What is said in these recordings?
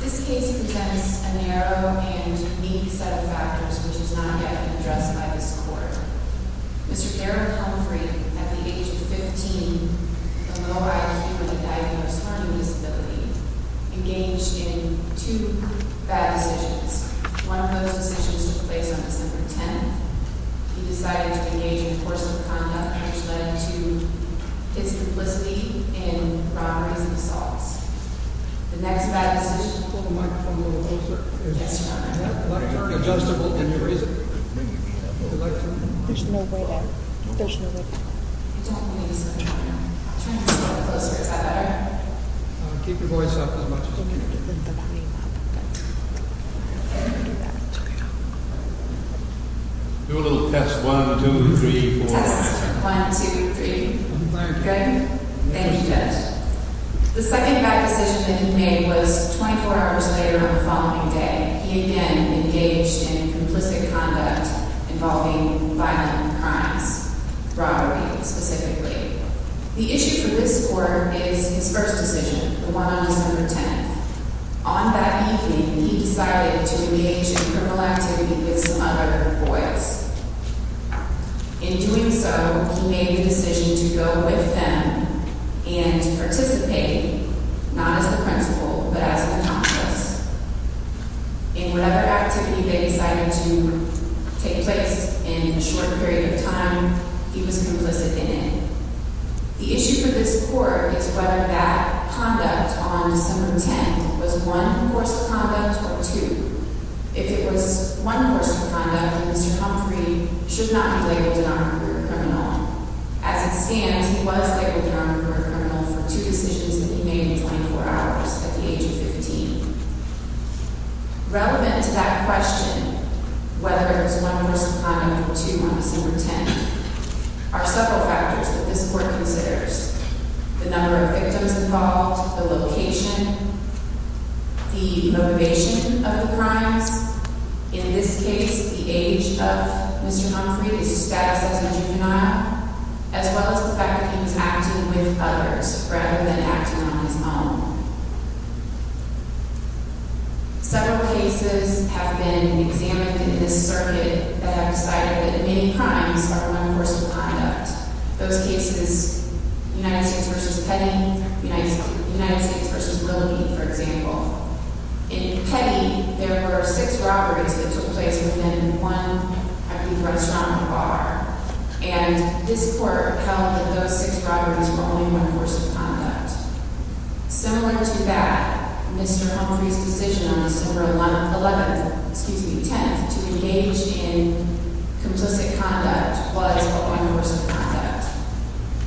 This case presents a narrow and unique set of factors which has not yet been addressed by this court. Mr. Dereld Humphrey, at the age of 15, a low IQ with a diagnosed learning disability, engaged in two bad decisions. One of those decisions took place on December 10th. He decided to engage in forceful conduct which led to his complicity in robberies and assaults. The next bad decision... Do a little test. One, two, three, four. Test. One, two, three. Thank you. Good? Thank you, Judge. The second bad decision that he made was 24 hours later on the following day. He again engaged in complicit conduct involving violent crimes, robbery specifically. The issue for this court is his first decision, the one on December 10th. On that evening, he decided to engage in criminal activity with some other boys. In doing so, he made the decision to go with them and participate not as the principal but as an accomplice. In whatever activity they decided to take place in a short period of time, he was complicit in it. The issue for this court is whether that conduct on December 10th was one forceful conduct or two. If it was one forceful conduct, then Mr. Humphrey should not be labeled an on-career criminal. As it stands, he was labeled an on-career criminal for two decisions that he made in 24 hours at the age of 15. Relevant to that question, whether it was one forceful conduct or two on December 10th, are several factors that this court considers. The number of victims involved, the location, the motivation of the crimes. In this case, the age of Mr. Humphrey, his status as a juvenile, as well as the fact that he was acting with others rather than acting on his own. Several cases have been examined in this circuit that have decided that many crimes are one forceful conduct. Those cases, United States v. Petty, United States v. Lilly, for example. In Petty, there were six robberies that took place within one, I believe, restaurant or bar. And this court held that those six robberies were only one forceful conduct. Similar to that, Mr. Humphrey's decision on December 11th, excuse me, 10th, to engage in complicit conduct was but one forceful conduct.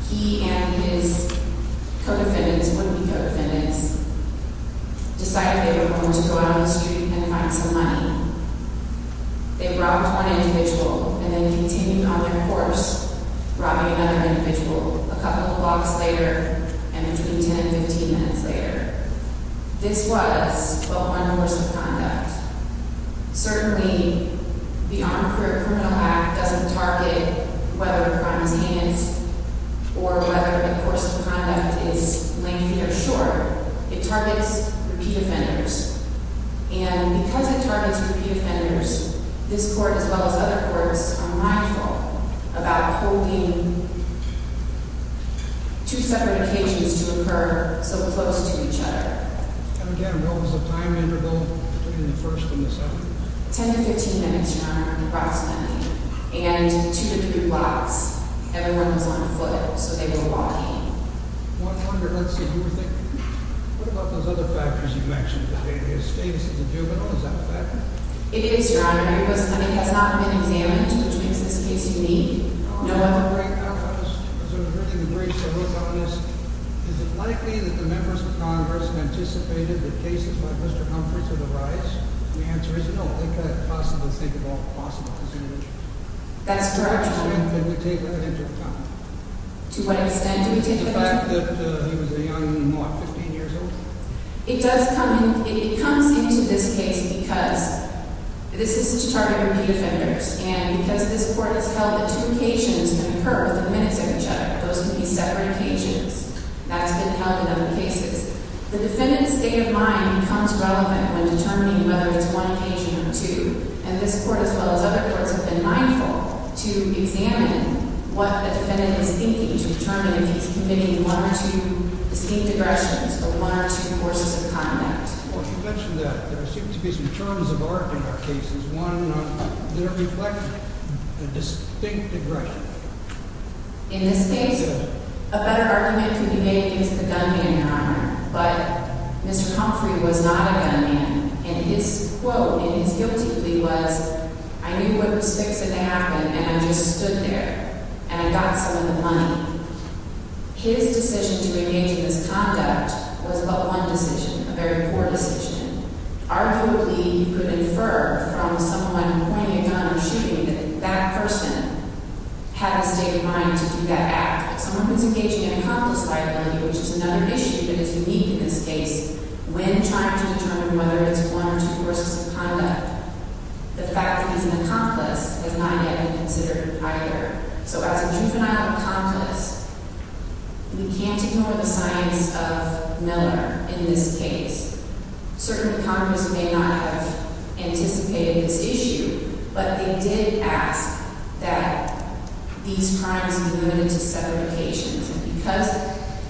He and his co-defendants, one of the co-defendants, decided they were going to go out on the street and find some money. They robbed one individual and then continued on their course, robbing another individual, a couple of blocks later and between 10 and 15 minutes later. This was but one forceful conduct. Certainly, the Armed Career Criminal Act doesn't target whether a crime is heinous or whether a forceful conduct is lengthy or short. It targets repeat offenders. And because it targets repeat offenders, this court, as well as other courts, are mindful about holding two separate occasions to occur so close to each other. And again, what was the time interval between the first and the second? 10 to 15 minutes, Your Honor, approximately. And two to three blocks. Everyone was on foot, so they were walking. One wonder, let's see, who were they? What about those other factors you mentioned? His status as a juvenile, is that a factor? It is, Your Honor. Everybody's money has not been examined, which makes this case unique. Is it likely that the members of Congress anticipated that cases like Mr. Humphrey's would arise? The answer is no. They could possibly think of all possible cases. That's correct, Your Honor. To what extent do we take it into account? To what extent do we take it into account? The fact that he was a young, what, 15 years old? It does come into this case because this is to target repeat offenders. And because this court has held that two occasions can occur within minutes of each other, those can be separate occasions. That's been held in other cases. The defendant's state of mind becomes relevant when determining whether it's one occasion or two. And this court, as well as other courts, have been mindful to examine what the defendant is thinking to determine if he's committing one or two distinct aggressions or one or two courses of conduct. Well, you mentioned that. There seem to be some terms of art in our cases. One, they reflect a distinct aggression. In this case, a better argument could be made against the gunman, Your Honor. But Mr. Humphrey was not a gunman, and his quote in his guilty plea was, I knew what was fixing to happen, and I just stood there, and I got some of the money. His decision to engage in this conduct was but one decision, a very poor decision. Arguably, you could infer from someone pointing a gun or shooting that that person had a state of mind to do that act. Someone who's engaged in an accomplice liability, which is another issue that is unique in this case, when trying to determine whether it's one or two courses of conduct, the fact that he's an accomplice has not yet been considered either. So as a juvenile accomplice, we can't ignore the science of Miller in this case. Certainly, Congress may not have anticipated this issue, but they did ask that these crimes be limited to severed occasions. And because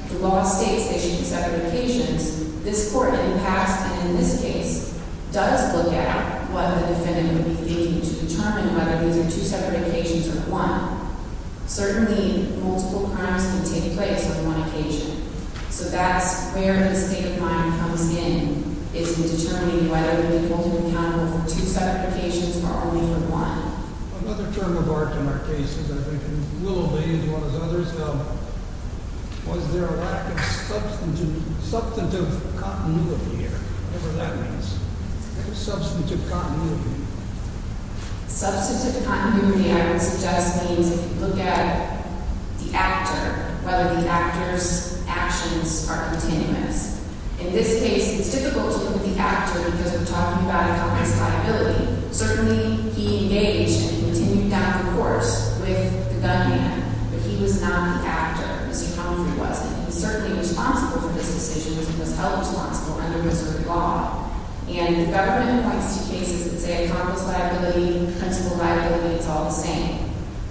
the law states they should be severed occasions, this Court, in the past and in this case, does look at what the defendant would be thinking to determine whether these are two severed occasions or one. Certainly, multiple crimes can take place over one occasion. So that's where the state of mind comes in, is in determining whether we hold him accountable for two severed occasions or only for one. Another term of art in our cases, I think, and we'll obey as well as others, was there a lack of substantive continuity here, whatever that means. Substantive continuity. Substantive continuity, I would suggest, means if you look at the actor, whether the actor's actions are continuous. In this case, it's difficult to look at the actor because we're talking about an accomplice liability. Certainly, he engaged and he continued down the course with the gunman, but he was not the actor. Mr. Humphrey wasn't. He was certainly responsible for this decision. He was held responsible under Missouri law. And the government appoints two cases that say accomplice liability, principal liability, it's all the same.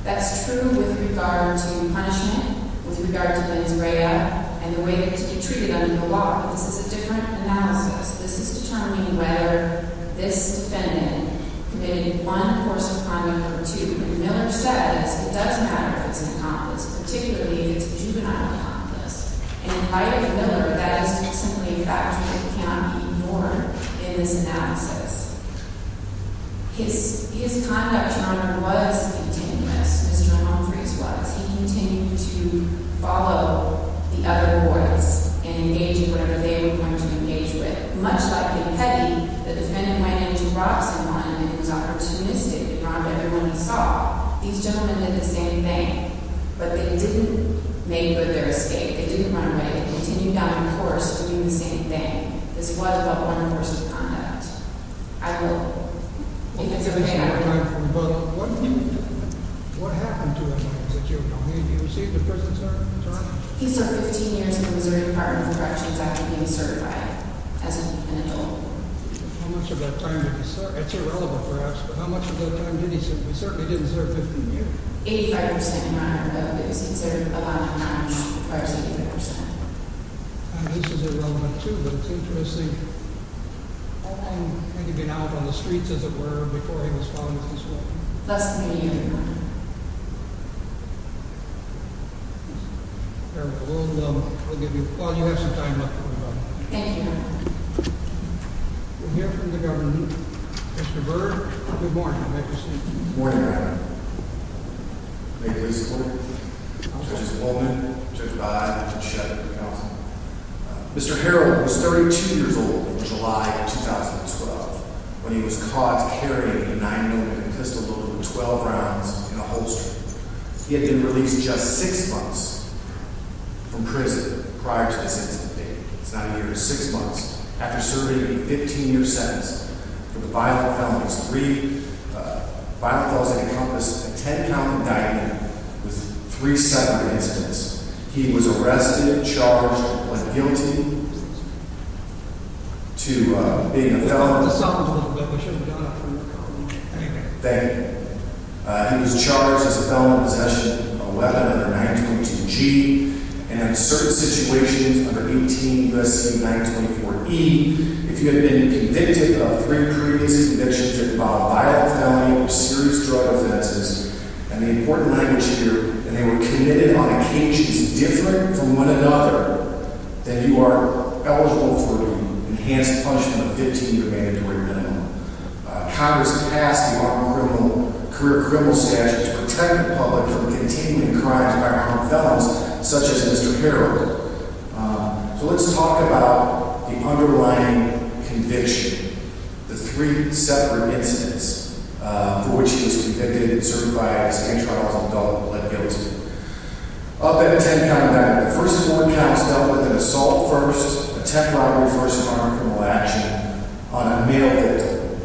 That's true with regard to punishment, with regard to mens rea, and the way that it's treated under the law. But this is a different analysis. This is determining whether this defendant committed one course of conduct or two. And Miller says it doesn't matter if it's an accomplice, particularly if it's a juvenile accomplice. And in light of Miller, that is simply a factor that can't be ignored in this analysis. His conduct, Your Honor, was continuous, as Jerome Humphrey's was. He continued to follow the other courts and engage in whatever they were going to engage with. Much like the petty, the defendant went in to rob someone and it was opportunistic. He robbed everyone he saw. These gentlemen did the same thing, but they didn't make good their escape. They didn't run away. They continued down the course of doing the same thing. This was but one course of conduct. I will, if it's okay, I will. What happened to him as a juvenile? Did he receive the prison sentence or not? He served 15 years in the Missouri Department of Corrections after being certified as an adult. How much of that time did he serve? It's irrelevant, perhaps, but how much of that time did he serve? He certainly didn't serve 15 years. Eighty-five percent, Your Honor, though, because he served a lot of time as far as 85 percent. This is irrelevant, too, but it's interesting. How long had he been out on the streets, as it were, before he was found with this weapon? Less than a year, Your Honor. Well, you have some time left. Thank you, Your Honor. We'll hear from the government. Mr. Bird, good morning. Good morning, Your Honor. May it please the Court. Judges Holman, Judge Biden, Judge Shep, counsel. Mr. Harrell was 32 years old in July of 2012 when he was caught carrying a 9mm pistol loaded with 12 rounds in a holster. He had been released just six months from prison prior to the sentencing date. It's not a year, it's six months. After serving a 15-year sentence for the violent felonies, three violent felonies that encompass a 10-count indictment with three separate incidents, he was arrested, charged, and put guilty to being a felon. Thank you. Thank you. He was charged as a felon in possession of a weapon under 922G and in certain situations under 18 U.S.C. 924E. If you have been convicted of three previous convictions of a violent felony or serious drug offenses, and the important language here, that they were committed on occasions different from one another, then you are eligible for the enhanced punishment of a 15-year mandatory minimum. Congress passed the criminal statute to protect the public from the continuing crimes of violent felons such as Mr. Harrell. So let's talk about the underlying conviction, the three separate incidents for which he was convicted and served by a state trial as an adult and pled guilty. Up in a 10-count indictment, the first of four counts dealt with an assault first, a tech robbery first, and armed criminal action on a male victim.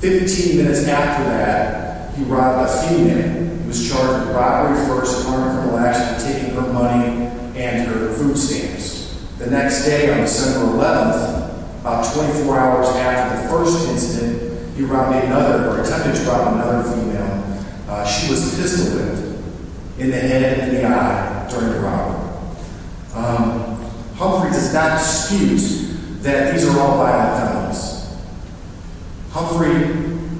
Fifteen minutes after that, he arrived by feeding him. He was charged with robbery first, armed criminal action, taking her money and her food stamps. The next day, on December 11th, about 24 hours after the first incident, he attempted to rob another female. She was pistol whipped in the head and in the eye during the robbery. Humphrey does not dispute that these are all violent felons. Humphrey,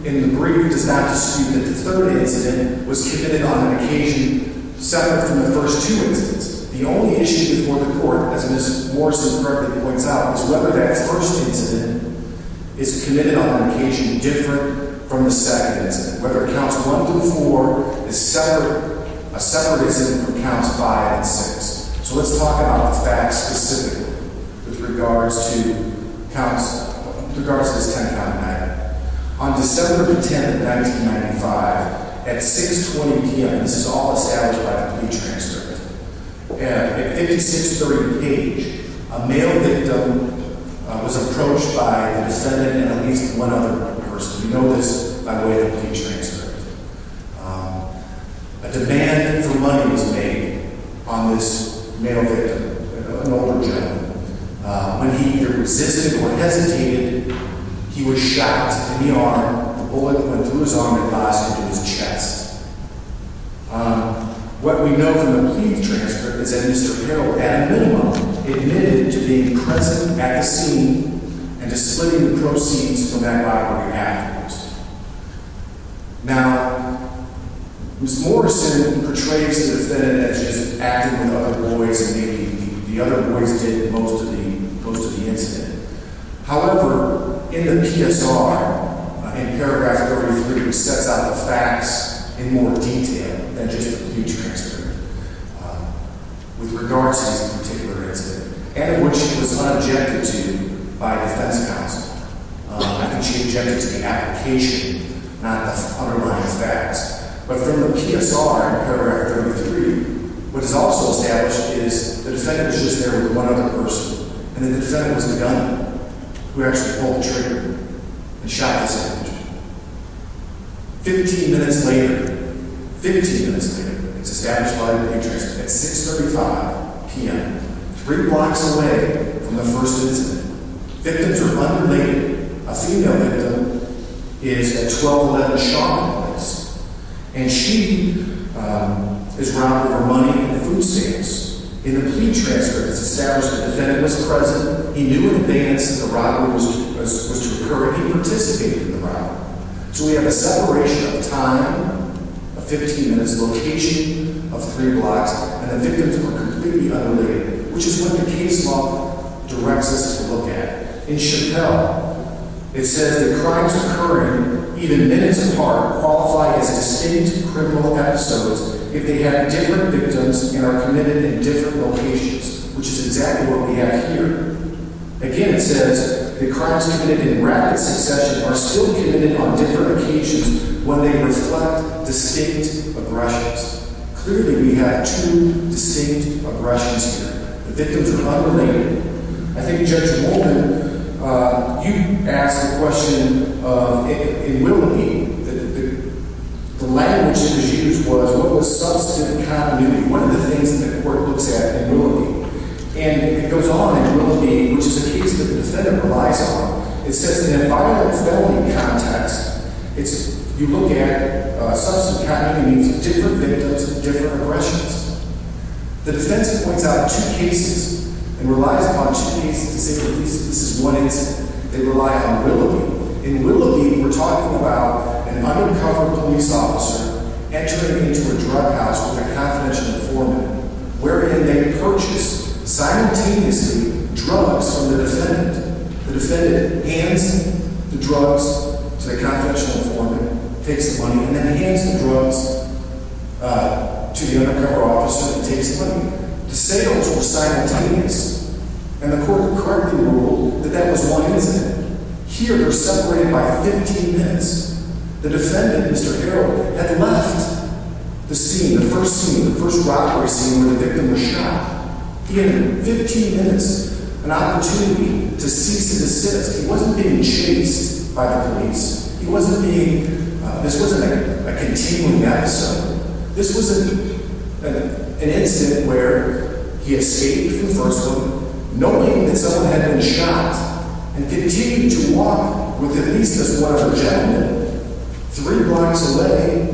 in the brief, does not dispute that the third incident was committed on an occasion separate from the first two incidents. The only issue before the court, as Ms. Morrison correctly points out, is whether that first incident is committed on an occasion different from the second. Whether it counts one through four is separate. A separate incident counts five and six. So let's talk about the facts specifically with regards to this 10-count indictment. On December 10th, 1995, at 6.20 p.m. This is all established by the police transcript. At 5630 Page, a male victim was approached by the descendant and at least one other person. You know this by way of the police transcript. A demand for money was made on this male victim, an older gentleman. When he either resisted or hesitated, he was shot in the arm. The bullet went through his arm and blasted into his chest. What we know from the police transcript is that Mr. Hill, at a minimum, admitted to being present at the scene and to splitting the proceeds from that robbery afterwards. Now, Ms. Morrison portrays the defendant as just acting with other boys and making the other boys do most of the incident. However, in the PSR, in Paragraph 33, it sets out the facts in more detail than just the police transcript with regards to this particular incident and what she was unobjected to by a defense counsel. I think she objected to the application, not the underlying facts. But from the PSR in Paragraph 33, what is also established is the defendant was just there with one other person, and the defendant was the gunman who actually pulled the trigger and shot the second victim. Fifteen minutes later, it's established by the police transcript, at 6.35 p.m., three blocks away from the first incident, victims are unrelated. A female victim is at 1211 Sharp Place, and she is robbed of her money and food stamps. In the police transcript, it's established the defendant was present, he knew in advance that the robbery was to occur, and he participated in the robbery. So we have a separation of time of 15 minutes, location of three blocks, and the victims were completely unrelated, which is what the case law directs us to look at. In Chappelle, it says that crimes occurring even minutes apart qualify as distinct criminal episodes if they have different victims and are committed in different locations, which is exactly what we have here. Again, it says that crimes committed in rapid succession are still committed on different occasions when they reflect distinct aggressions. Clearly, we have two distinct aggressions here. The victims are unrelated. I think Judge Molden, you asked a question in Willoughby. The language that was used was what was substantive continuity, one of the things that the court looks at in Willoughby. And it goes on in Willoughby, which is a case that the defendant relies on. It says in a violent felony context, you look at substantive continuity means different victims, different aggressions. The defense points out two cases and relies upon two cases in single cases. This is one instance. They rely on Willoughby. In Willoughby, we're talking about an undercover police officer entering into a drug house with a confidential informant, wherein they purchase simultaneously drugs from the defendant. The defendant hands the drugs to the confidential informant, takes the money, and then hands the drugs to the undercover officer that takes the money. The sales were simultaneous, and the court concurrently ruled that that was one incident. Here, they're separated by 15 minutes. The defendant, Mr. Harrell, had left the scene, the first scene, the first robbery scene where the victim was shot. He had 15 minutes, an opportunity to cease and desist. He wasn't being chased by the police. This wasn't a continuing episode. This was an incident where he escaped from the first one, knowing that someone had been shot, and continued to walk with at least as one of the gentlemen three blocks away,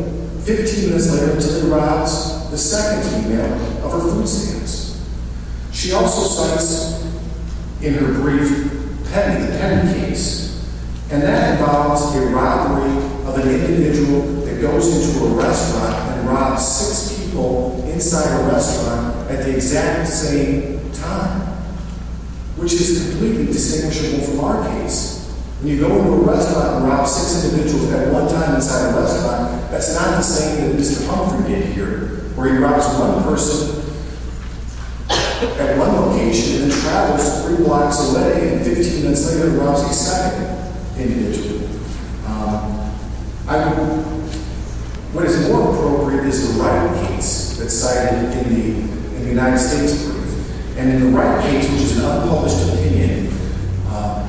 15 minutes later, until he arrives at the second email of her food stamps. She also cites in her brief the pending case, and that involves the robbery of an individual that goes into a restaurant and robs six people inside a restaurant at the exact same time, which is completely distinguishable from our case. When you go into a restaurant and rob six individuals at one time inside a restaurant, that's not the same that Mr. Humphrey did here, where he robs one person at one location and then travels three blocks away, and 15 minutes later, robs the second individual. What is more appropriate is the right case that's cited in the United States brief, and in the right case, which is an unpublished opinion,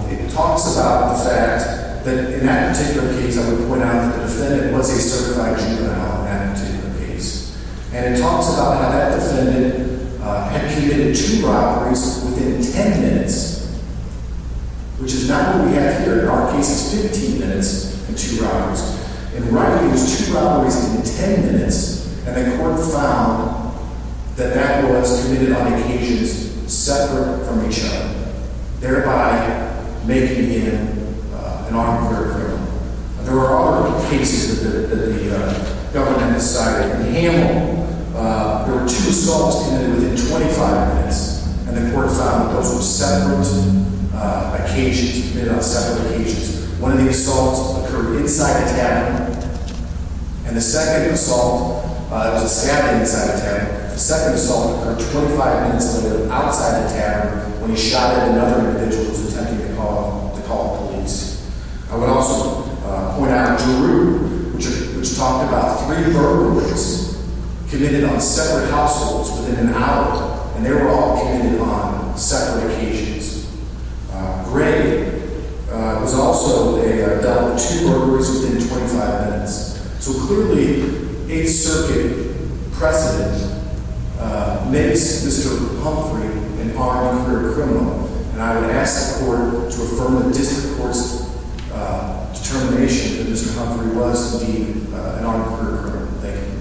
it talks about the fact that in that particular case, I would point out that the defendant was a certified juvenile in that particular case, and it talks about how that defendant had committed two robberies within 10 minutes, which is not what we have here in our case. It's 15 minutes and two robberies. In the right case, it was two robberies in 10 minutes, and the court found that that was committed on occasions separate from each other, thereby making him an armed murder criminal. There are other cases that the government has cited. In Hamill, there were two assaults committed within 25 minutes, and the court found that those were separate occasions, committed on separate occasions. One of the assaults occurred inside the tavern, and the second assault, it was a stabbing inside the tavern. The second assault occurred 25 minutes later outside the tavern when he shot at another individual who was attempting to call the police. I would also point out Drew, which talked about three robberies committed on separate households within an hour, and they were all committed on separate occasions. Greg was also dealt with two robberies within 25 minutes. So clearly, a circuit precedent makes Mr. Humphrey an armed murder criminal, and I would ask the court to affirm the district court's determination that Mr. Humphrey was, indeed, an armed murder criminal. Thank you.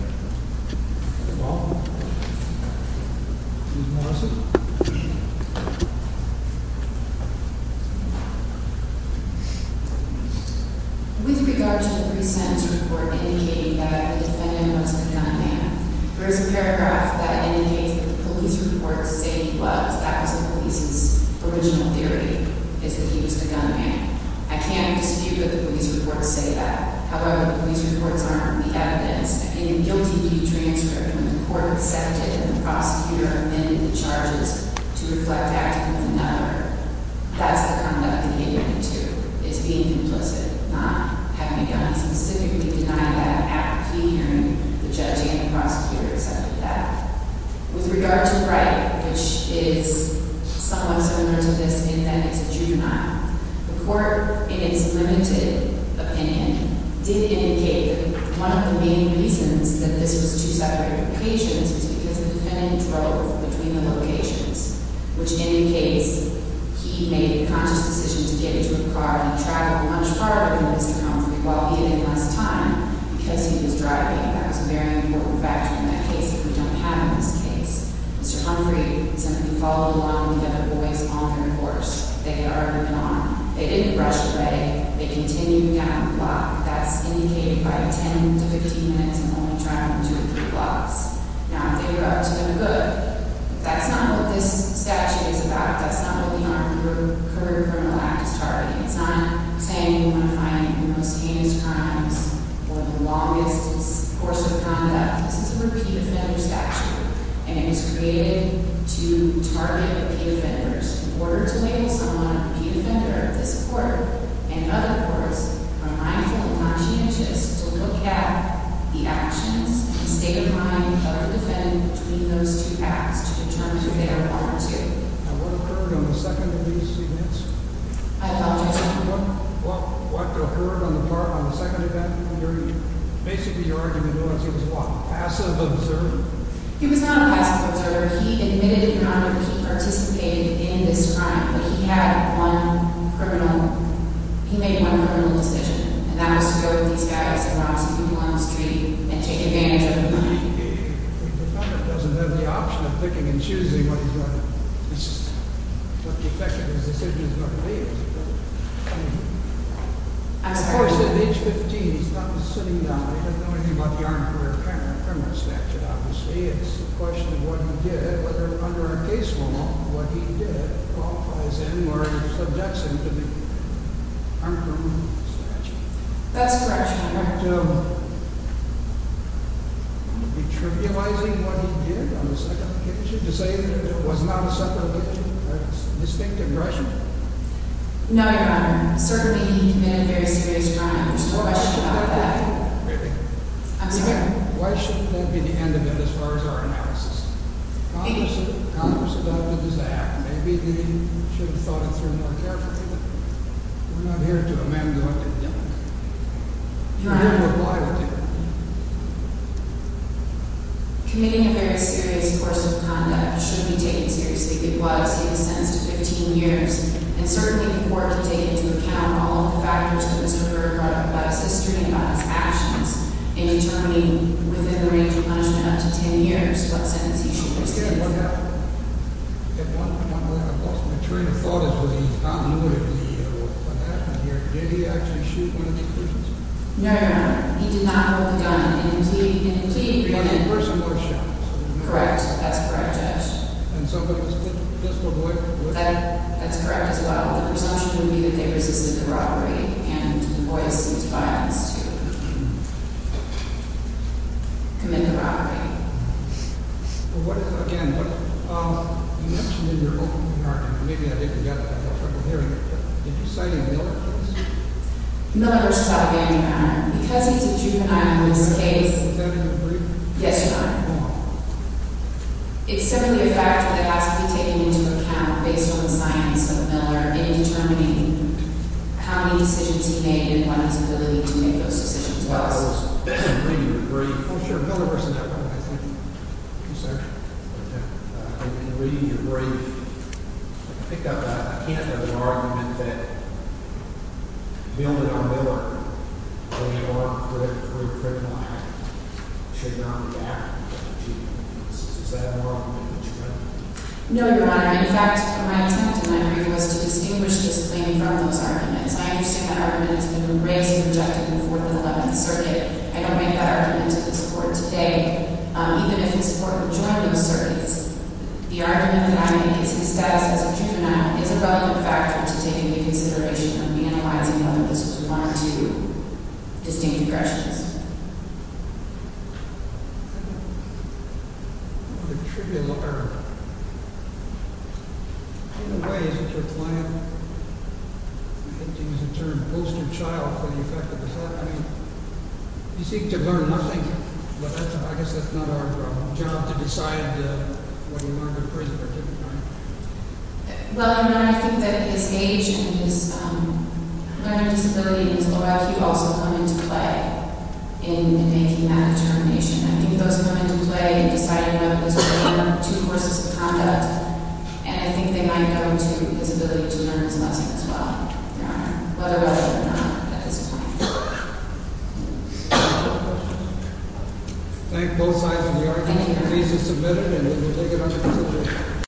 With regard to the three-sentence report indicating that the defendant was a gunman, there is a paragraph that indicates that the police report states that he was, that was the police's original theory, is that he was a gunman. I can't dispute that the police report say that. However, the police reports are only evidence. In a guilty plea transcript, when the court accepted and the prosecutor amended the charges to reflect acting with another, that's the kind of behavior he took. It's being complicit, not having a gun. He specifically denied that after he heard the judge and the prosecutor accept that. With regard to Wright, which is somewhat similar to this in that it's a juvenile, the court, in its limited opinion, did indicate that one of the main reasons that this was two separate occasions was because the defendant drove between the locations, which indicates he made a conscious decision to get into a car and travel much farther than Mr. Humphrey while he had less time because he was driving. That was a very important factor in that case that we don't have in this case. Mr. Humphrey said that he followed along with the other boys on their course. They had already been on. They didn't rush away. They continued down the block. That's indicated by 10 to 15 minutes and only traveling two or three blocks. Now, if they do that, it's going to look good. That's not what this statute is about. That's not what the Armed Career Criminal Act is targeting. It's not saying you want to find the most heinous crimes for the longest course of conduct. This is a repeat offender statute, and it was created to target repeat offenders. In order to label someone a repeat offender, this court and other courts are mindful and conscientious to look at the actions and state of mind of the defendant between those two acts to determine if they are voluntary. Now, what occurred on the second of these events? I apologize. What occurred on the part of the second event? Basically, your argument was he was what? Passive observer? He was not a passive observer. He admitted he participated in this crime, but he made one criminal decision, and that was to go with these guys and rob some people on the street and take advantage of the money. The defendant doesn't have the option of picking and choosing what the effect of his decision is going to be. As a person of age 15, he's not sitting down. He doesn't know anything about the Armed Career Criminal Statute, obviously. It's a question of what he did, whether under a case law, what he did qualifies him or subjects him to the Armed Career Criminal Statute. That's correct. I'm not going to be trivializing what he did on the second occasion to say that it was not a separate occasion. That's a distinctive aggression. No, Your Honor. Certainly, he committed a very serious crime. There's no question about that. Maybe. I'm sorry? Why shouldn't that be the end of it as far as our analysis? Maybe. Congress adopted his act. Maybe they should have thought it through more carefully, We're not here to amend the argument. Your Honor, committing a very serious course of conduct should be taken seriously. It was. He was sentenced to 15 years. It's certainly important to take into account all the factors of his murder, regardless of his history and about his actions, in determining within the range of punishment up to 10 years what sentence he should receive. My train of thought is whether he's not aware of what happened here. Did he actually shoot one of the prisoners? No, Your Honor. He did not hold the gun. And indeed, he didn't. But the person was shot. Correct. That's correct, Judge. And some of them just avoided the bullet. That's correct as well. and avoided some of this violence to commit the robbery. Again, you mentioned in your opening argument, and maybe I didn't get that at the hearing, did you cite a Miller case? No, Your Honor. Because he's a juvenile in this case, Is that in the brief? Yes, Your Honor. It's simply a factor that has to be taken into account based on the science of Miller in determining how many decisions he made and what his ability to make those decisions was. I was reading the brief. Oh, sure. Miller was in that one, I think. Yes, sir. Okay. In reading your brief, I pick up that I can't have an argument that building on Miller, when you argue for a criminal act, should not be an act. Does that have an argument that you don't? No, Your Honor. In fact, my intent in my brief was to distinguish this claim from those arguments. I understand that argument has been raised and rejected in the Fourth and Eleventh Circuit. I don't make that argument to this Court today. Even if this Court would join those circuits, the argument that I make is that his status as a juvenile is a relevant factor to taking into consideration and reanalyzing whether this was one or two distinct aggressions. I don't know if it should be a lawyer. In a way, is it your plan to use the term poster child for the effect of this happening? You seek to learn nothing, but I guess that's not our job to decide whether you are a good prisoner, right? Well, Your Honor, I think that his age and his learning disability means a lot. He also wanted to play. In making that determination, I think those women who play decided whether it was one or two courses of conduct, and I think they might go to his ability to learn as well, whether or not at this point. Thank both sides of the argument. The case is submitted, and we will take it under consideration.